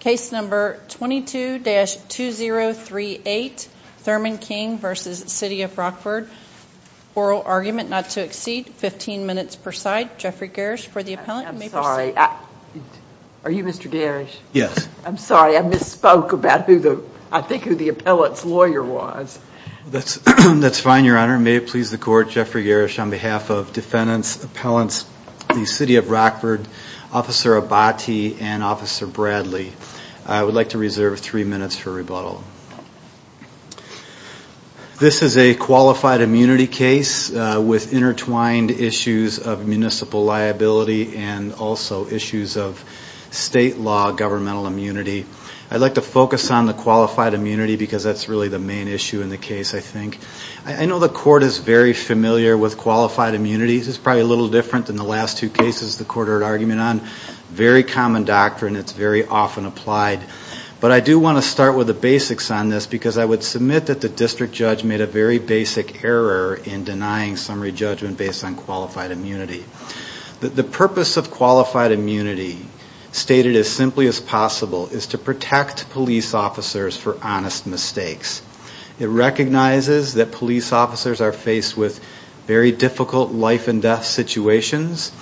Case number 22-2038 Thurman King v. City of Rockford. Oral argument not to exceed 15 minutes per side. Geoffrey Garish for the appellant and may proceed. Are you Mr. Garish? Yes. I'm sorry, I misspoke about who the, I think who the appellant's lawyer was. That's fine your honor. May it please the court, Geoffrey Garish on behalf of defendants, appellants, the City of Rockford, Officer Abati and Officer Bradley. I would like to reserve three minutes for rebuttal. This is a qualified immunity case with intertwined issues of municipal liability and also issues of state law governmental immunity. I'd like to focus on the qualified immunity because that's really the main issue in the case I think. I know the court is very familiar with qualified immunity. It's probably a little different than the last two cases the court heard argument on. Very common doctrine. It's very often applied. But I do want to start with the basics on this because I would submit that the district judge made a very basic error in denying summary judgment based on qualified immunity. The purpose of qualified immunity stated as simply as possible is to protect police officers for honest mistakes. It recognizes that police officers are faced with very difficult life and death situations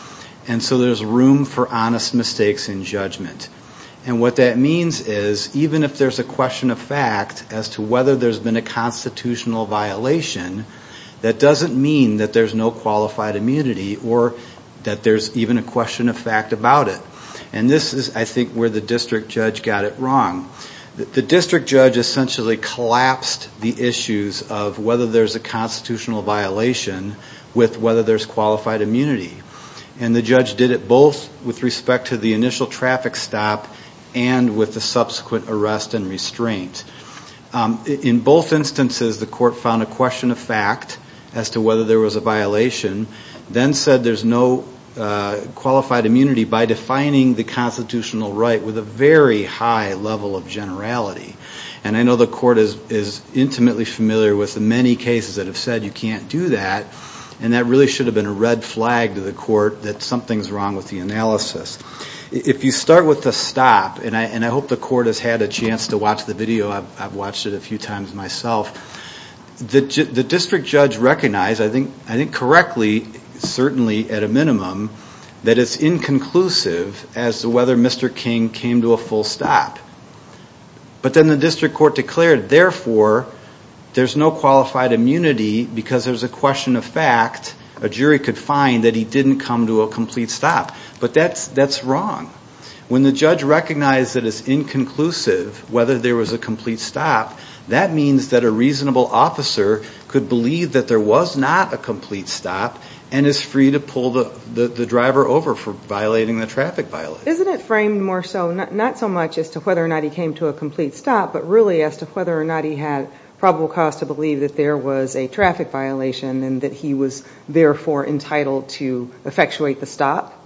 and so there's room for honest mistakes in judgment. And what that means is even if there's a question of fact as to whether there's been a constitutional violation, that doesn't mean that there's no qualified immunity or that there's even a question of fact about it. And this is I think where the district judge got it wrong. The district judge essentially collapsed the issues of whether there's a constitutional violation with whether there's qualified immunity. And the judge did it both with respect to the initial traffic stop and with the subsequent arrest and restraint. In both instances, the court found a question of fact as to whether there was a violation, then said there's no qualified immunity by defining the constitutional right with a very high level of generality. And I know the court is intimately familiar with the many cases that have said you can't do that. And that really should have been a red flag to the court that something's wrong with the analysis. If you start with the stop, and I hope the court has had a chance to watch the video. I've watched it a few times myself. The district judge recognized, I think correctly, certainly at a minimum, that it's inconclusive as to whether Mr. King came to a full stop. But then the district court declared, therefore, there's no qualified immunity because there's a question of fact. A jury could find that he didn't come to a complete stop. But that's wrong. When the judge recognized that it's inconclusive whether there was a complete stop, that means that a reasonable officer could believe that there was not a complete stop and is free to pull the driver over for violating the traffic violation. Isn't it framed more so, not so much as to whether or not he came to a complete stop, but really as to whether or not he had probable cause to believe that there was a traffic violation and that he was, therefore, entitled to effectuate the stop?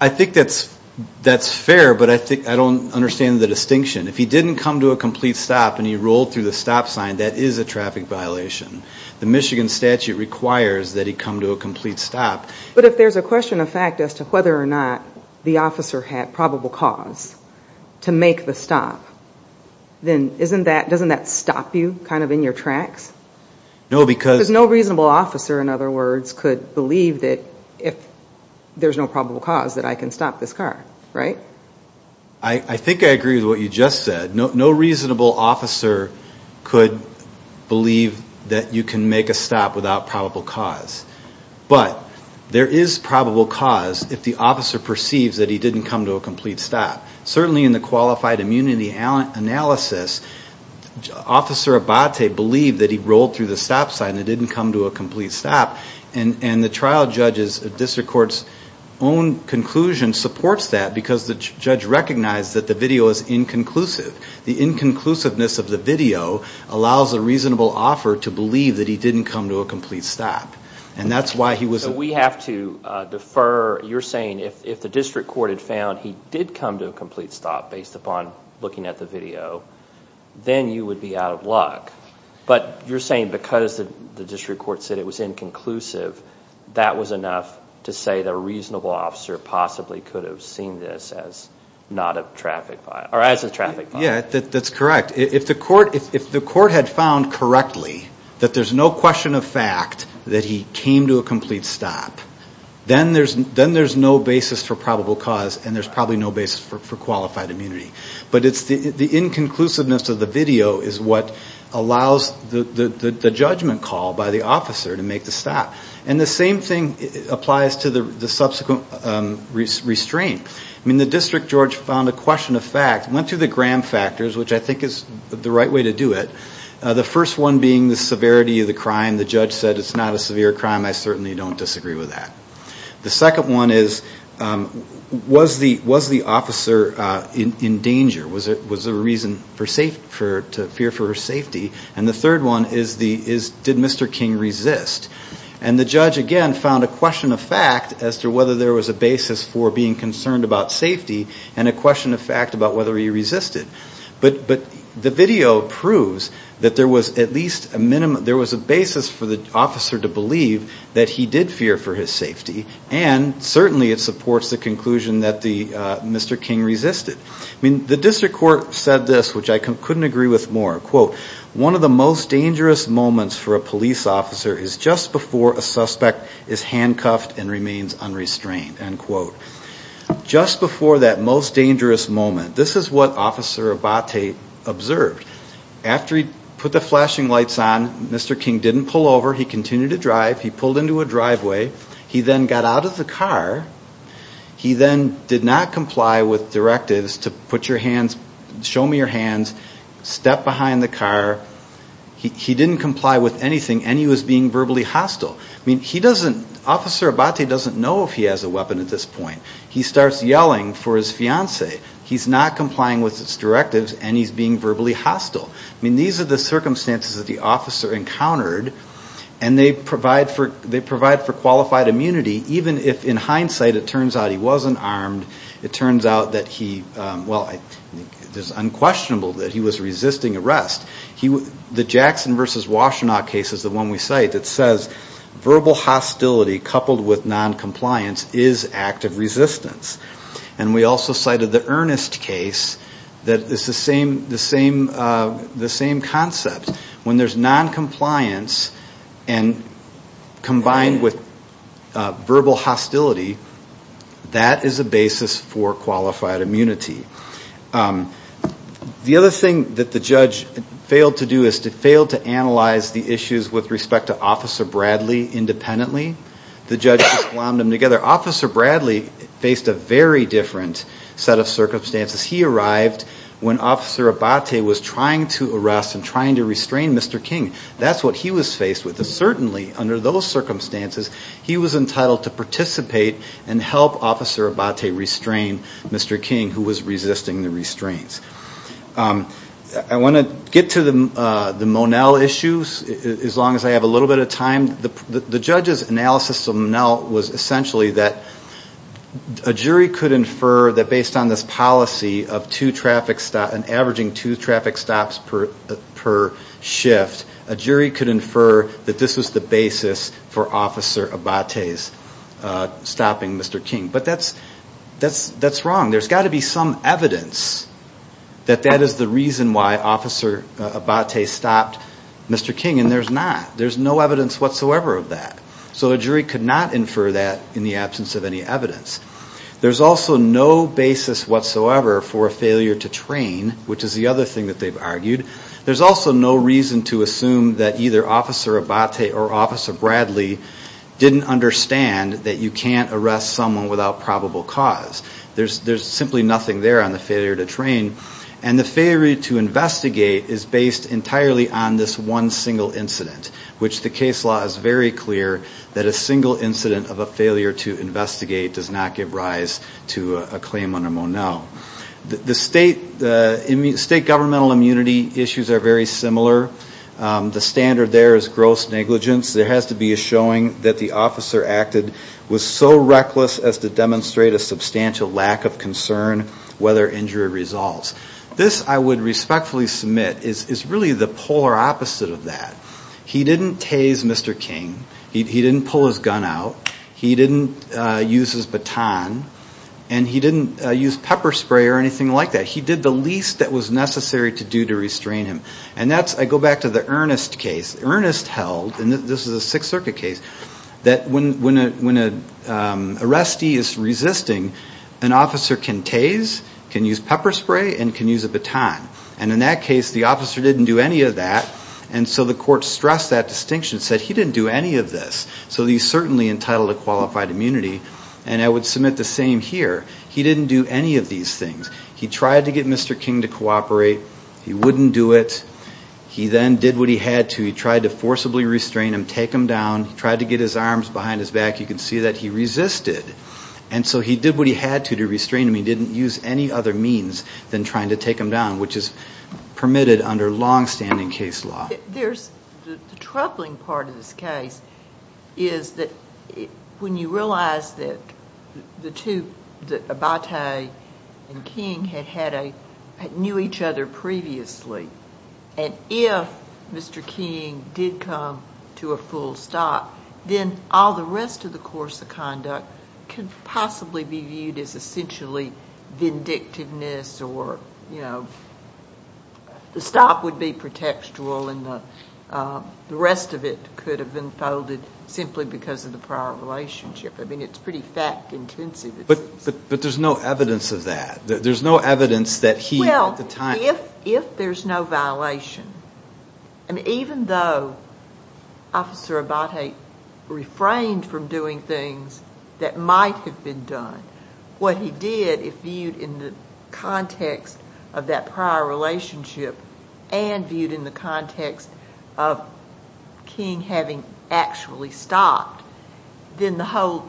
I think that's fair, but I don't understand the distinction. If he didn't come to a complete stop and he rolled through the stop sign, that is a traffic violation. The Michigan statute requires that he come to a complete stop. But if there's a question of fact as to whether or not the officer had probable cause to make the stop, then doesn't that stop you, kind of in your tracks? No, because... Because no reasonable officer, in other words, could believe that if there's no probable cause that I can stop this car, right? I think I agree with what you just said. No reasonable officer could believe that you can make a stop without probable cause. But there is probable cause if the officer perceives that he didn't come to a complete stop. Certainly in the qualified immunity analysis, Officer Abate believed that he rolled through the stop sign and didn't come to a complete stop. And the trial judge's, district court's own conclusion supports that because the judge recognized that the video is inconclusive. The inconclusiveness of the video allows a reasonable offer to believe that he didn't come to a complete stop. And that's why he was... We have to defer. You're saying if the district court had found he did come to a complete stop based upon looking at the video, then you would be out of luck. But you're saying because the district court said it was inconclusive, that was enough to say that a reasonable officer possibly could have seen this as not a traffic violation, or as a traffic violation. Yeah, that's correct. If the court had found correctly that there's no question of fact that he came to a complete stop, then there's no basis for probable cause and there's probably no basis for qualified immunity. But it's the inconclusiveness of the video is what allows the judgment call by the officer to make the stop. And the same thing applies to the subsequent restraint. I mean, the district, George, found a question of fact, went through the gram factors, which I think is the right way to do it. The first one being the severity of the crime. The judge said it's not a severe crime. I certainly don't disagree with that. The second one is, was the officer in danger? Was there a reason to fear for her safety? And the third one is, did Mr. King resist? And the judge, again, found a question of fact as to whether there was a basis for being concerned about safety, and a question of fact about whether he resisted. But the video proves that there was at least a minimum, there was a basis for the officer to believe that he did fear for his safety, and certainly it supports the conclusion that Mr. King resisted. I mean, the district court said this, which I couldn't agree with more. Quote, one of the most dangerous moments for a police officer is just before a suspect is handcuffed and remains unrestrained. End quote. Just before that most dangerous moment. This is what Officer Abate observed. After he put the flashing lights on, Mr. King didn't pull over. He continued to drive. He pulled into a driveway. He then got out of the car. He then did not comply with directives to put your hands, show me your hands, step behind the car. He didn't comply with anything, and he was being verbally hostile. I mean, he doesn't, Officer Abate doesn't know if he has a weapon at this point. He starts yelling for his fiance. He's not complying with his directives, and he's being verbally hostile. I mean, these are the circumstances that the officer encountered, and they provide for qualified immunity, even if in hindsight it turns out he wasn't armed. It turns out that he, well, it's unquestionable that he was resisting arrest. The Jackson versus Washtenaw case is the one we cite that says verbal hostility coupled with noncompliance is active resistance. And we also cited the Earnest case that is the same concept. When there's noncompliance and combined with verbal hostility, that is a basis for qualified immunity. The other thing that the judge failed to do is to fail to analyze the issues with respect to Officer Bradley independently. The judge just wound them together. Officer Bradley faced a very different set of circumstances. He arrived when Officer Abate was trying to arrest and trying to restrain Mr. King. That's what he was faced with. And certainly under those circumstances, he was entitled to participate and help Officer Abate restrain Mr. King, who was resisting the restraints. I want to get to the Monell issues, as long as I have a little bit of time. The judge's analysis of Monell was essentially that a jury could infer that based on this policy of two traffic stops, averaging two traffic stops per shift, a jury could infer that this was the basis for Officer Abate stopping Mr. King. But that's wrong. There's got to be some evidence that that is the reason why Officer Abate stopped Mr. King, and there's not. There's no evidence whatsoever of that. So a jury could not infer that in the absence of any evidence. There's also no basis whatsoever for a failure to train, which is the other thing that they've argued. There's also no reason to assume that either Officer Abate or Officer Bradley didn't understand that you can't arrest someone without probable cause. There's simply nothing there on the failure to train. And the failure to investigate is based entirely on this one single incident, which the case law is very clear that a single incident of a failure to investigate does not give rise to a claim under Monell. The state governmental immunity issues are very similar. The standard there is gross negligence. There has to be a showing that the officer acted was so reckless as to demonstrate a substantial lack of concern whether injury results. This I would respectfully submit is really the polar opposite of that. He didn't tase Mr. King. He didn't pull his gun out. He didn't use his baton. And he didn't use pepper spray or anything like that. He did the least that was necessary to do to restrain him. And that's, I go back to the Ernest case. Ernest held, and this is a Sixth Circuit case, that when an arrestee is resisting, an officer can tase, can use pepper spray, and can use a baton. And in that case, the officer didn't do any of that. And so the court stressed that distinction, said he didn't do any of this. So he's certainly entitled to qualified immunity. And I would submit the same here. He didn't do any of these things. He tried to get Mr. King to cooperate. He wouldn't do it. He then did what he had to. He tried to forcibly restrain him, take him down. He tried to get his arms behind his back. You can see that he resisted. And so he did what he had to to restrain him. He didn't use any other means than trying to take him down, which is permitted under longstanding case law. There's, the troubling part of this case is that when you realize that the two, Abate and King, had had a, knew each other previously, and if Mr. King did come to a full stop, then all the rest of the course of conduct could possibly be viewed as essentially vindictiveness or, you know, the stop would be pretextual and the rest of it could have been folded simply because of the prior relationship. I mean, it's pretty fact-intensive. But there's no evidence of that. There's no evidence that he at the time... Well, if there's no violation, I mean, even though Officer Abate refrained from doing things that might have been done, what he did, if viewed in the context of that prior relationship and viewed in the context of King having actually stopped, then the whole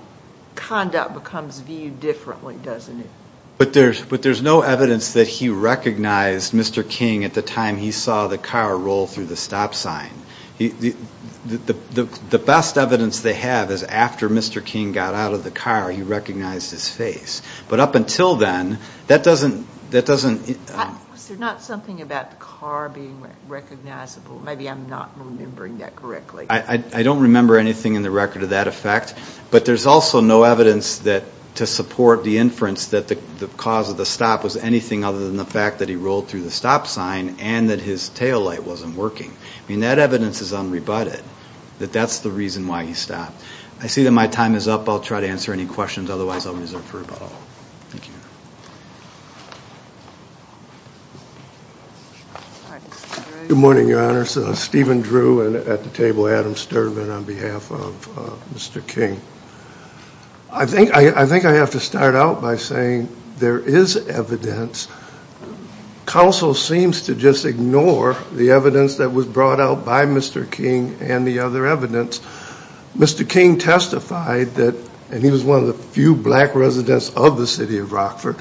conduct becomes viewed differently, doesn't it? But there's no evidence that he recognized Mr. King at the time he saw the car roll through the stop sign. The best evidence they have is after Mr. King got out of the car, he recognized his face. But up until then, that doesn't... Is there not something about the car being recognizable? Maybe I'm not remembering that correctly. I don't remember anything in the record of that effect. But there's also no evidence that to support the inference that the cause of the stop was anything other than the fact that he rolled through the stop sign and that his taillight wasn't working. I mean, that evidence is unrebutted, that that's the reason why he stopped. I see that my time is up. I'll try to answer any questions. Otherwise, I'll reserve for rebuttal. Thank you. Good morning, Your Honor. Steven Drew at the table. Adam Sturman on behalf of Mr. King. I think I have to start out by saying there is evidence. Counsel seems to just ignore the evidence that was brought out by Mr. King and the other evidence. Mr. King testified that, and he was one of the few black residents of the city of Rockford,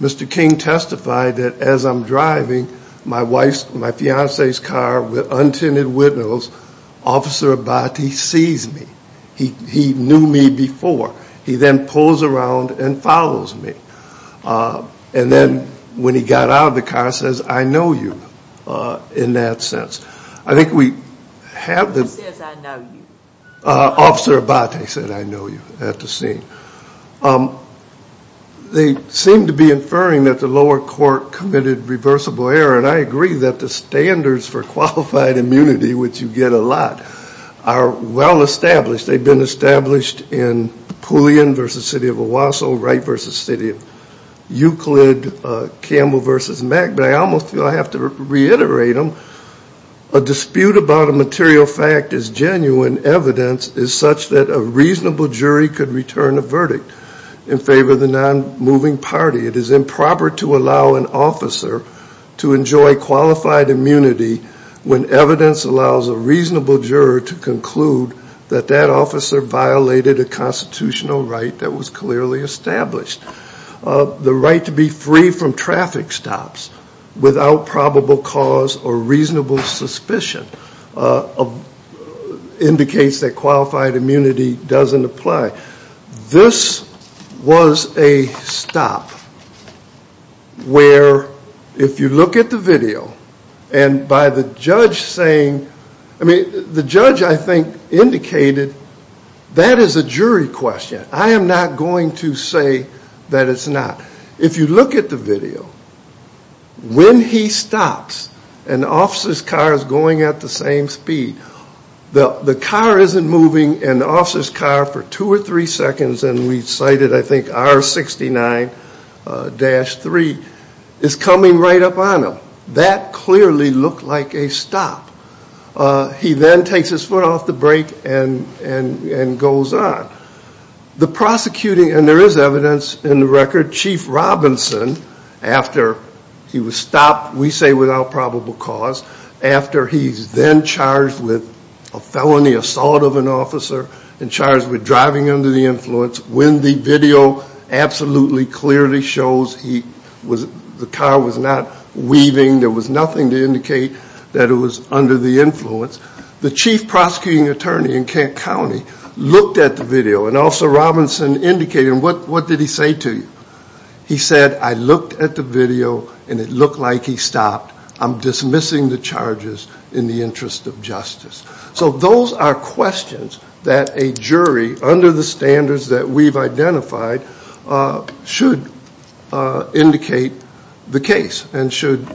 Mr. King testified that as I'm driving, my wife's, my fiance's car with untinted windows, Officer Abate sees me. He knew me before. He then pulls around and follows me. And then when he got out of the car, says, I know you, in that sense. I think we have the... Who says I know you? Officer Abate said I know you at the scene. They seem to be inferring that the lower court committed reversible error, and I agree that the standards for qualified immunity, which you get a lot, are well established. They've been established in Pullian v. City of Owasso, Wright v. City of Euclid, Campbell v. Mack, but I almost feel I have to reiterate them. A dispute about a material fact is genuine evidence is such that a reasonable jury could return a verdict in favor of the non-moving party. It is improper to allow an officer to enjoy qualified immunity when evidence allows a reasonable juror to conclude that that officer violated a constitutional right that was clearly established. The right to be free from traffic stops without probable cause or reasonable suspicion indicates that qualified immunity doesn't apply. This was a stop where, if you look at the video, and by the judge saying... The judge I think indicated that is a jury question. I am not going to say that it's not. If you look at the video, when he stops and the officer's car is going at the same speed, the car isn't moving, and the officer's car for two or three seconds, and we cited I think R69-3, is coming right up on him. That clearly looked like a stop. He then takes his foot off the brake and goes on. The prosecuting, and there is evidence in the record, Chief Robinson, after he was stopped, we say without probable cause, after he's then charged with a felony assault of an officer, and charged with driving under the influence, when the video absolutely clearly shows the car was not weaving, there was nothing to indicate that it was under the influence, the Chief Prosecuting Attorney in Kent County looked at the video and Officer Robinson indicated, what did he say to you? He said, I looked at the video and it looked like he stopped. I'm dismissing the charges in the interest of justice. So those are questions that a jury, under the standards that we've identified, should indicate the case, and should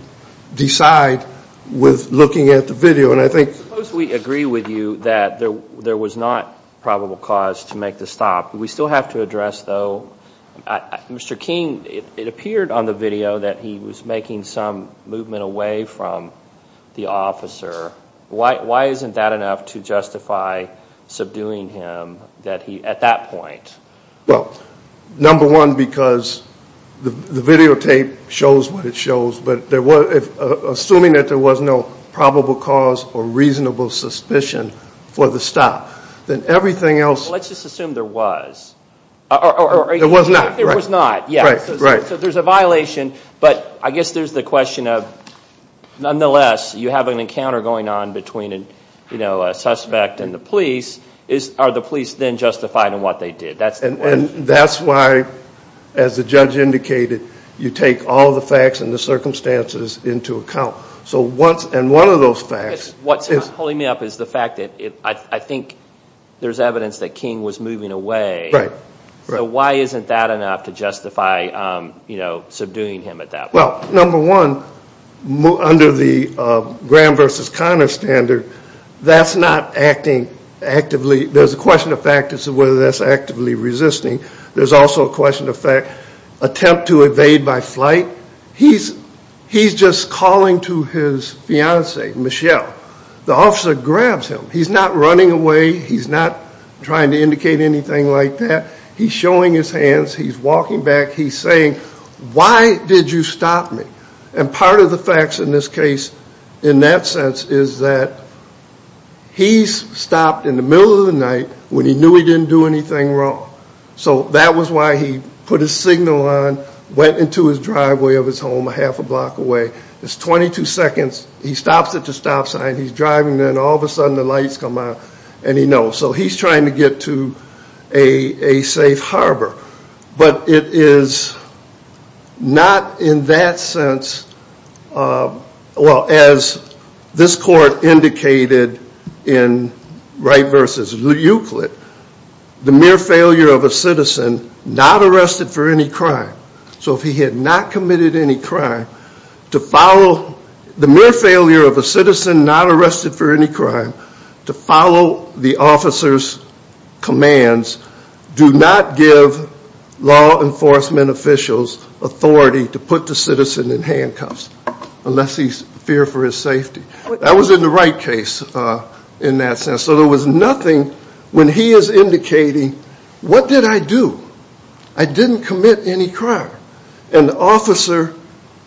decide with looking at the video. And I think... Suppose we agree with you that there was not probable cause to make the stop. We still have to address, though, Mr. King, it appeared on the video that he was making some movement away from the officer. Why isn't that enough to justify subduing him at that point? Well, number one, because the videotape shows what it shows, but assuming that there was no probable cause or reasonable suspicion for the stop, then everything else... Let's just assume there was. It was not. It was not, yes. So there's a violation, but I guess there's the question of, nonetheless, you have an encounter going on between a suspect and the police, are the police then justified in what they did? And that's why, as the judge indicated, you take all the facts and the circumstances into account. And one of those facts... What's holding me up is the fact that I think there's evidence that King was moving away. So why isn't that enough to justify subduing him at that point? Well, number one, under the Graham versus Connor standard, that's not acting actively... There's a question of fact as to whether that's actively resisting. There's also a question of fact, attempt to evade by flight. He's just calling to his fiancée, Michelle. The officer grabs him. He's not running away. He's not trying to indicate anything like that. He's showing his hands. He's walking back. He's saying, why did you stop me? And part of the facts in this case, in that sense, is that he's stopped in the middle of the night when he knew he didn't do anything wrong. So that was why he put his signal on, went into his driveway of his home a half a block away. It's 22 seconds. He stops at the stop sign. He's driving there, and all of a sudden the lights come on, and he knows. So he's trying to get to a safe harbor. But it is not in that sense... Well, as this court indicated in Wright versus Euclid, the mere failure of a citizen not arrested for any crime, so if he had not committed any crime, to follow the mere failure of a citizen not arrested for any crime, to follow the officer's commands, do not give law enforcement officials authority to put the citizen in handcuffs unless he's feared for his safety. That was in the Wright case in that sense. So there was nothing when he is indicating, what did I do? I didn't commit any crime. An officer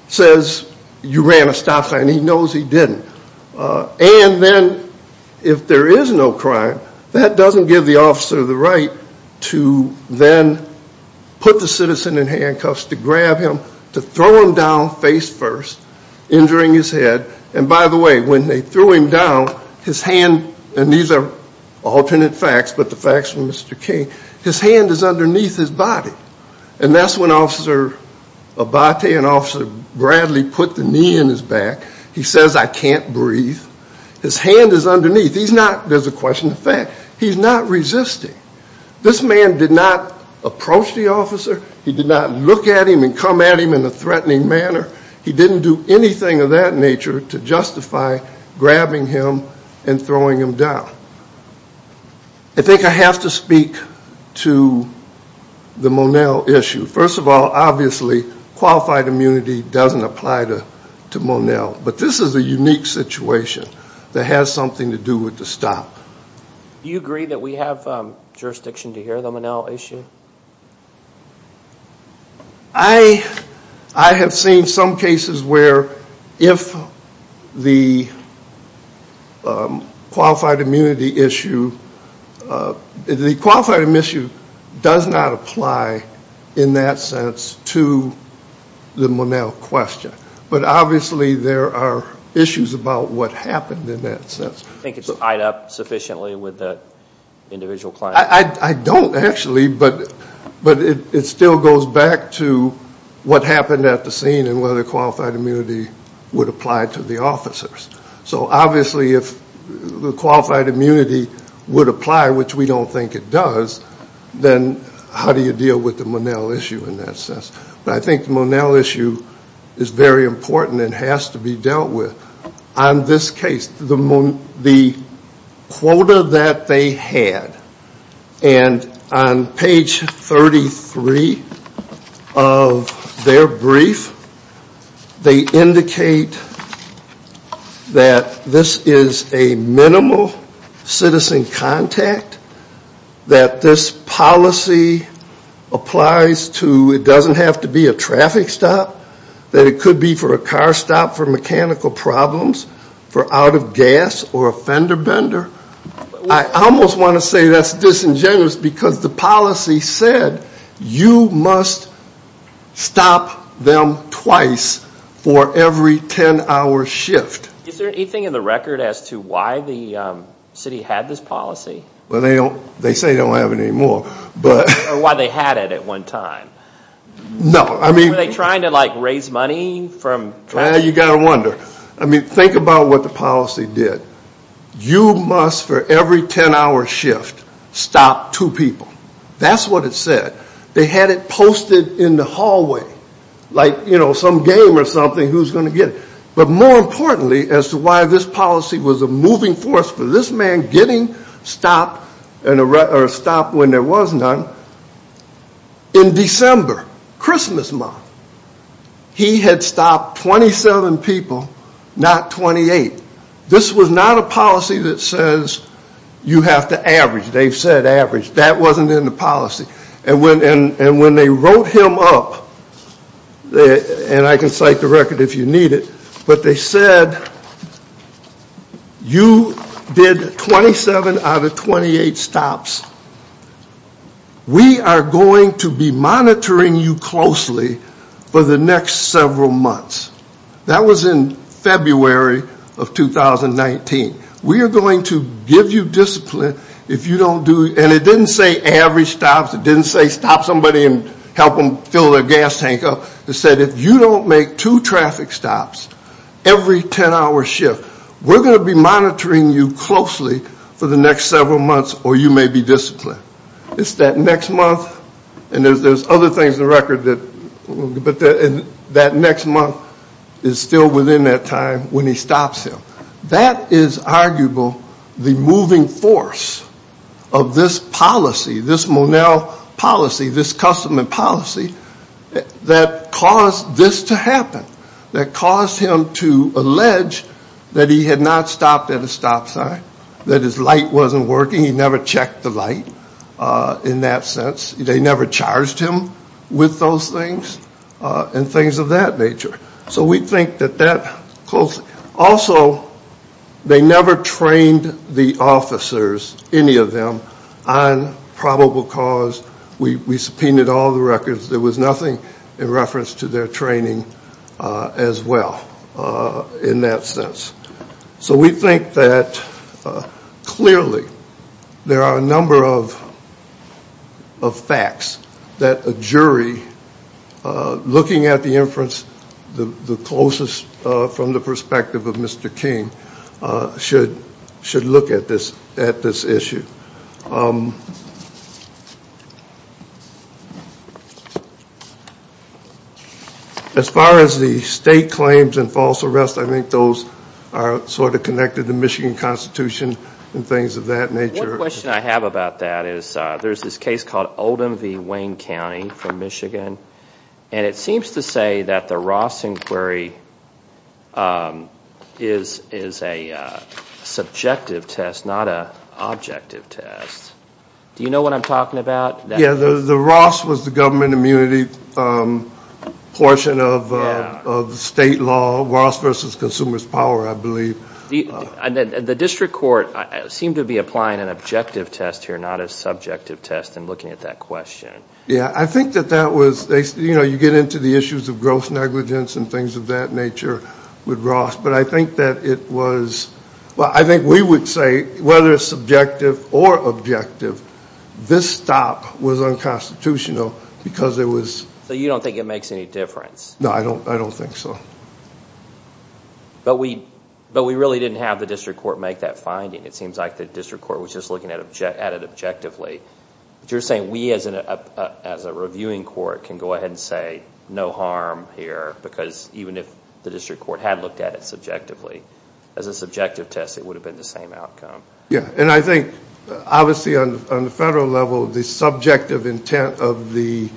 says, you ran a stop sign. He knows he didn't. And then if there is no crime, that doesn't give the officer the right to then put the citizen in handcuffs, to grab him, to throw him down face first, injuring his head. And by the way, when they threw him down, his hand... And these are alternate facts, but the facts from Mr. King, his hand is underneath his body. And that's when Officer Abate and Officer Bradley put the knee in his back. He says, I can't breathe. His hand is underneath. He's not... There's a question of fact. He's not resisting. This man did not approach the officer. He did not look at him and come at him in a threatening manner. He didn't do anything of that nature to justify grabbing him and throwing him down. I think I have to speak to the Monell issue. First of all, obviously, qualified immunity doesn't apply to Monell. But this is a unique situation that has something to do with the stop. Do you agree that we have jurisdiction to hear the Monell issue? I have seen some cases where if the qualified immunity issue... The qualified immunity does not apply in that sense to the Monell question. But obviously, there are issues about what happened in that sense. Do you think it's tied up sufficiently with the individual client? I don't actually, but it still goes back to what happened at the scene and whether qualified immunity would apply to the officers. So obviously, if the qualified immunity would apply, which we don't think it does, then how do you deal with the Monell issue in that sense? But I think the Monell issue is very important and has to be dealt with. On this case, the quota that they had, and on page 33 of their brief, they indicate that this is a minimal citizen contact, that this policy applies to... It doesn't have to be a traffic stop. That it could be for a car stop for mechanical problems, for out of gas, or a fender bender. I almost want to say that's disingenuous because the policy said you must stop them twice for every 10 hour shift. Is there anything in the record as to why the city had this policy? They say they don't have it anymore. Why they had it at one time. Were they trying to raise money? You got to wonder. Think about what the policy did. You must, for every 10 hour shift, stop two people. That's what it said. They had it posted in the hallway, like some game or something who's going to get it. But more importantly, as to why this policy was a moving force for this man getting stopped when there was none, in December, they had it posted Christmas month. He had stopped 27 people, not 28. This was not a policy that says you have to average. They've said average. That wasn't in the policy. And when they wrote him up, and I can cite the record if you need it, but they said, you did 27 out of 28 stops. We are going to be monitoring you closely for the next several months. That was in February of 2019. We are going to give you discipline if you don't do, and it didn't say average stops. It didn't say stop somebody and help them fill their gas tank up. It said if you don't make two traffic stops every 10 hour shift, we're going to be monitoring you closely for the next several months or you may be disciplined. It's that next month, and there's other things in the record, but that next month is still within that time when he stops him. That is arguable the moving force of this policy, this Monel policy, this custom and policy that caused this to happen. That caused him to allege that he had not stopped at a speed, in that sense. They never charged him with those things and things of that nature. So we think that that, also they never trained the officers, any of them, on probable cause. We subpoenaed all the records. There was nothing in reference to their training as well in that sense. So we think that clearly there are a number of facts that a jury looking at the inference the closest from the perspective of Mr. King should look at this issue. As far as the state claims and false arrest, I think those are sort of connected to Michigan Constitution and things of that nature. One question I have about that is there's this case called Oldham v. Wayne County from Michigan, and it seems to say that the Ross inquiry is a subjective test, not an objective test. Do you know what I'm talking about? Yeah, the Ross was the government immunity portion of state law, Ross v. Consumer's Power, I believe. The district court seemed to be applying an objective test here, not a subjective test in looking at that question. Yeah, I think that that was, you know, you get into the issues of gross negligence and things of that nature with Ross, but I think that it was, I think we would say whether subjective or objective, this stop was unconstitutional because it was... So you don't think it makes any difference? No, I don't think so. But we really didn't have the district court make that finding. It seems like the district court was just looking at it objectively. But you're saying we as a reviewing court can go ahead and say no harm here because even if the district court had looked at it subjectively, as a subjective test it would have been the same outcome? Yeah, and I think obviously on the federal level the subjective intent of the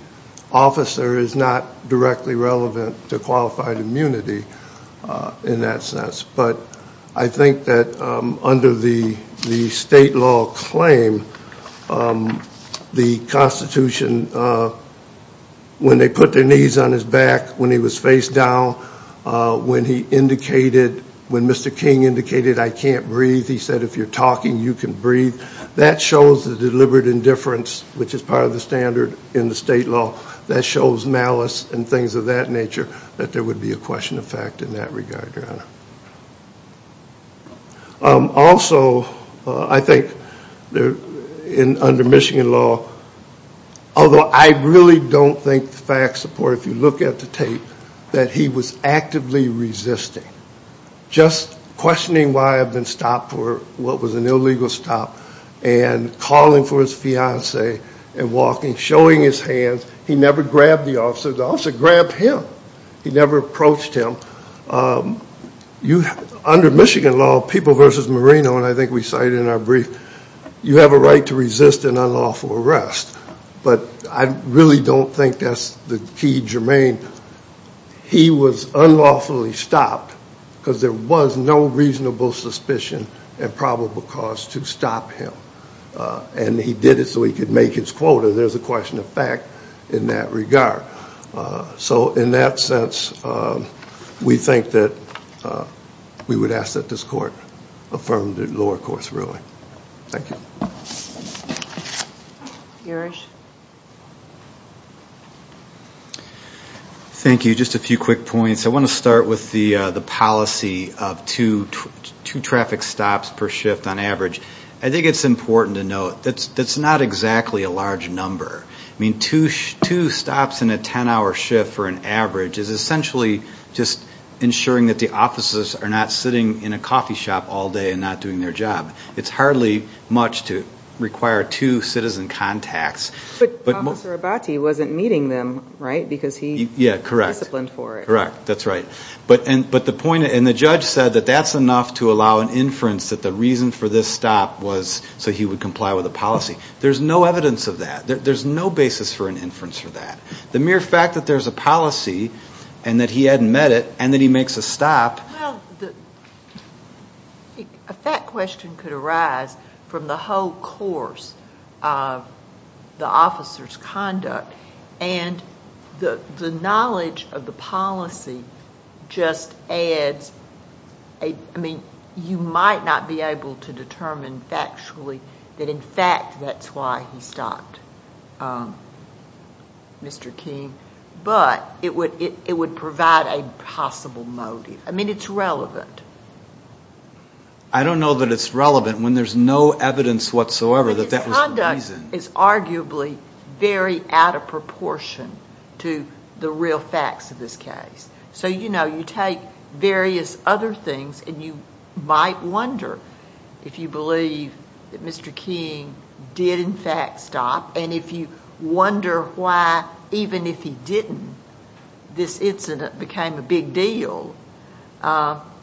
officer is not directly relevant to qualified immunity in that sense. But I think that under the state law claim, the Constitution, when they put their knees on his back, when he was faced with a gun, when he was talking, you can breathe, that shows the deliberate indifference, which is part of the standard in the state law. That shows malice and things of that nature that there would be a question of fact in that regard, Your Honor. Also, I think under Michigan law, although I really don't think the facts support, if you look at the tape, that he was actively resisting. Just questioning why I've been stopped for what was an illegal stop and calling for his fiance and walking, showing his hands. He never grabbed the officer. The officer grabbed him. He never approached him. Under Michigan law, people versus Marino, and I think we cited in our brief, you have a right to resist an unlawful arrest. But I really don't think that's the key germane. I think he was unlawfully stopped because there was no reasonable suspicion and probable cause to stop him. And he did it so he could make his quota. There's a question of fact in that regard. So in that sense, we think that we would ask that this Court affirm the lower court's ruling. Thank you. Just a few quick points. I want to start with the policy of two traffic stops per shift on average. I think it's important to note that's not exactly a large number. Two stops in a 10-hour shift for an average is essentially just ensuring that the officers are not sitting in a coffee shop all day and not doing their job. It's hardly much to require two citizen contacts. But Officer Abate wasn't meeting them, right? Because he was disciplined for it. Correct. That's right. But the point, and the judge said that that's enough to allow an inference that the reason for this stop was so he would comply with the policy. There's no evidence of that. There's no basis for an inference for that. The mere fact that there's a policy and that he hadn't met it and that he makes a stop... Well, a fact question could arise from the whole course of the officer's conduct and the knowledge of the policy just adds... I mean, you might not be able to determine factually that in fact that's why he stopped, Mr. King, but it would provide a possible motive. I don't know that it's relevant. I don't know that it's relevant when there's no evidence whatsoever that that was the reason. But his conduct is arguably very out of proportion to the real facts of this case. So, you know, you take various other things and you might wonder if you believe that Mr. King did in fact stop and if you wonder why even if he didn't, this incident became a big deal.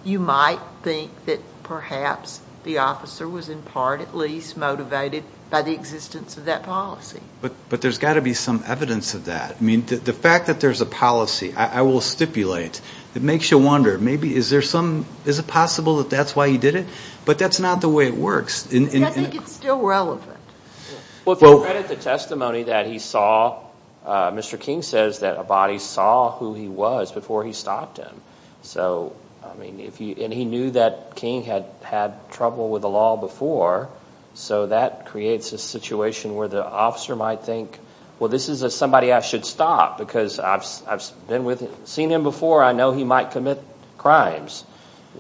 You might think that perhaps the officer was in part at least motivated by the existence of that policy. But there's got to be some evidence of that. I mean, the fact that there's a policy, I will stipulate, it makes you wonder maybe is there some... Is it possible that that's why he did it? But that's not the way it works. I think it's still relevant. Well, if you credit the testimony that he saw, Mr. King says that a body saw who he was before he stopped him. And he knew that King had had trouble with the law before, so that creates a situation where the officer might think, well, this is somebody I should stop because I've seen him before. I know he might commit crimes.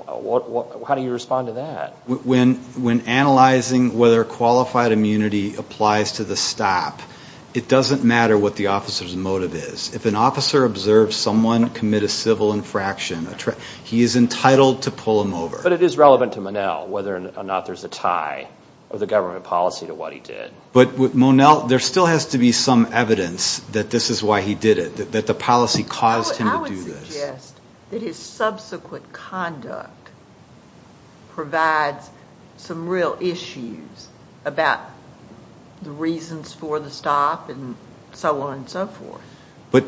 How do you respond to that? When analyzing whether qualified immunity applies to the stop, it doesn't matter what the officer's motive is. If an officer observes someone commit a civil infraction, he is entitled to pull him over. But it is relevant to Monell whether or not there's a tie of the government policy to what he did. But with Monell, there still has to be some evidence that this is why he did it, that the policy caused him to do this. I would suggest that his subsequent conduct provides some real issues about the reasons for the stop and so on and so forth. But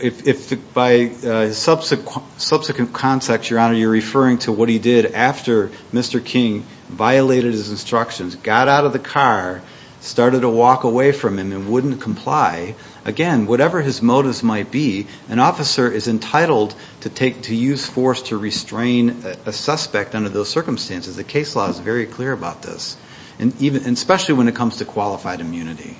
if by subsequent context, Your Honor, you're referring to what he did after Mr. King violated his instructions, got out of the car, started to walk away from him and wouldn't comply, again, whatever his motives might be, an officer is entitled to use force to restrain a suspect under those circumstances. The case law is very clear about this, especially when it comes to qualified immunity.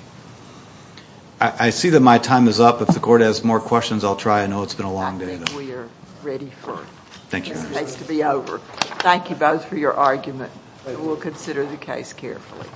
I see that my time is up. If the Court has more questions, I'll try. I know it's been a long day. I think we are ready for it. Thank you, Your Honor. This needs to be over. Thank you both for your argument. We'll consider the case carefully.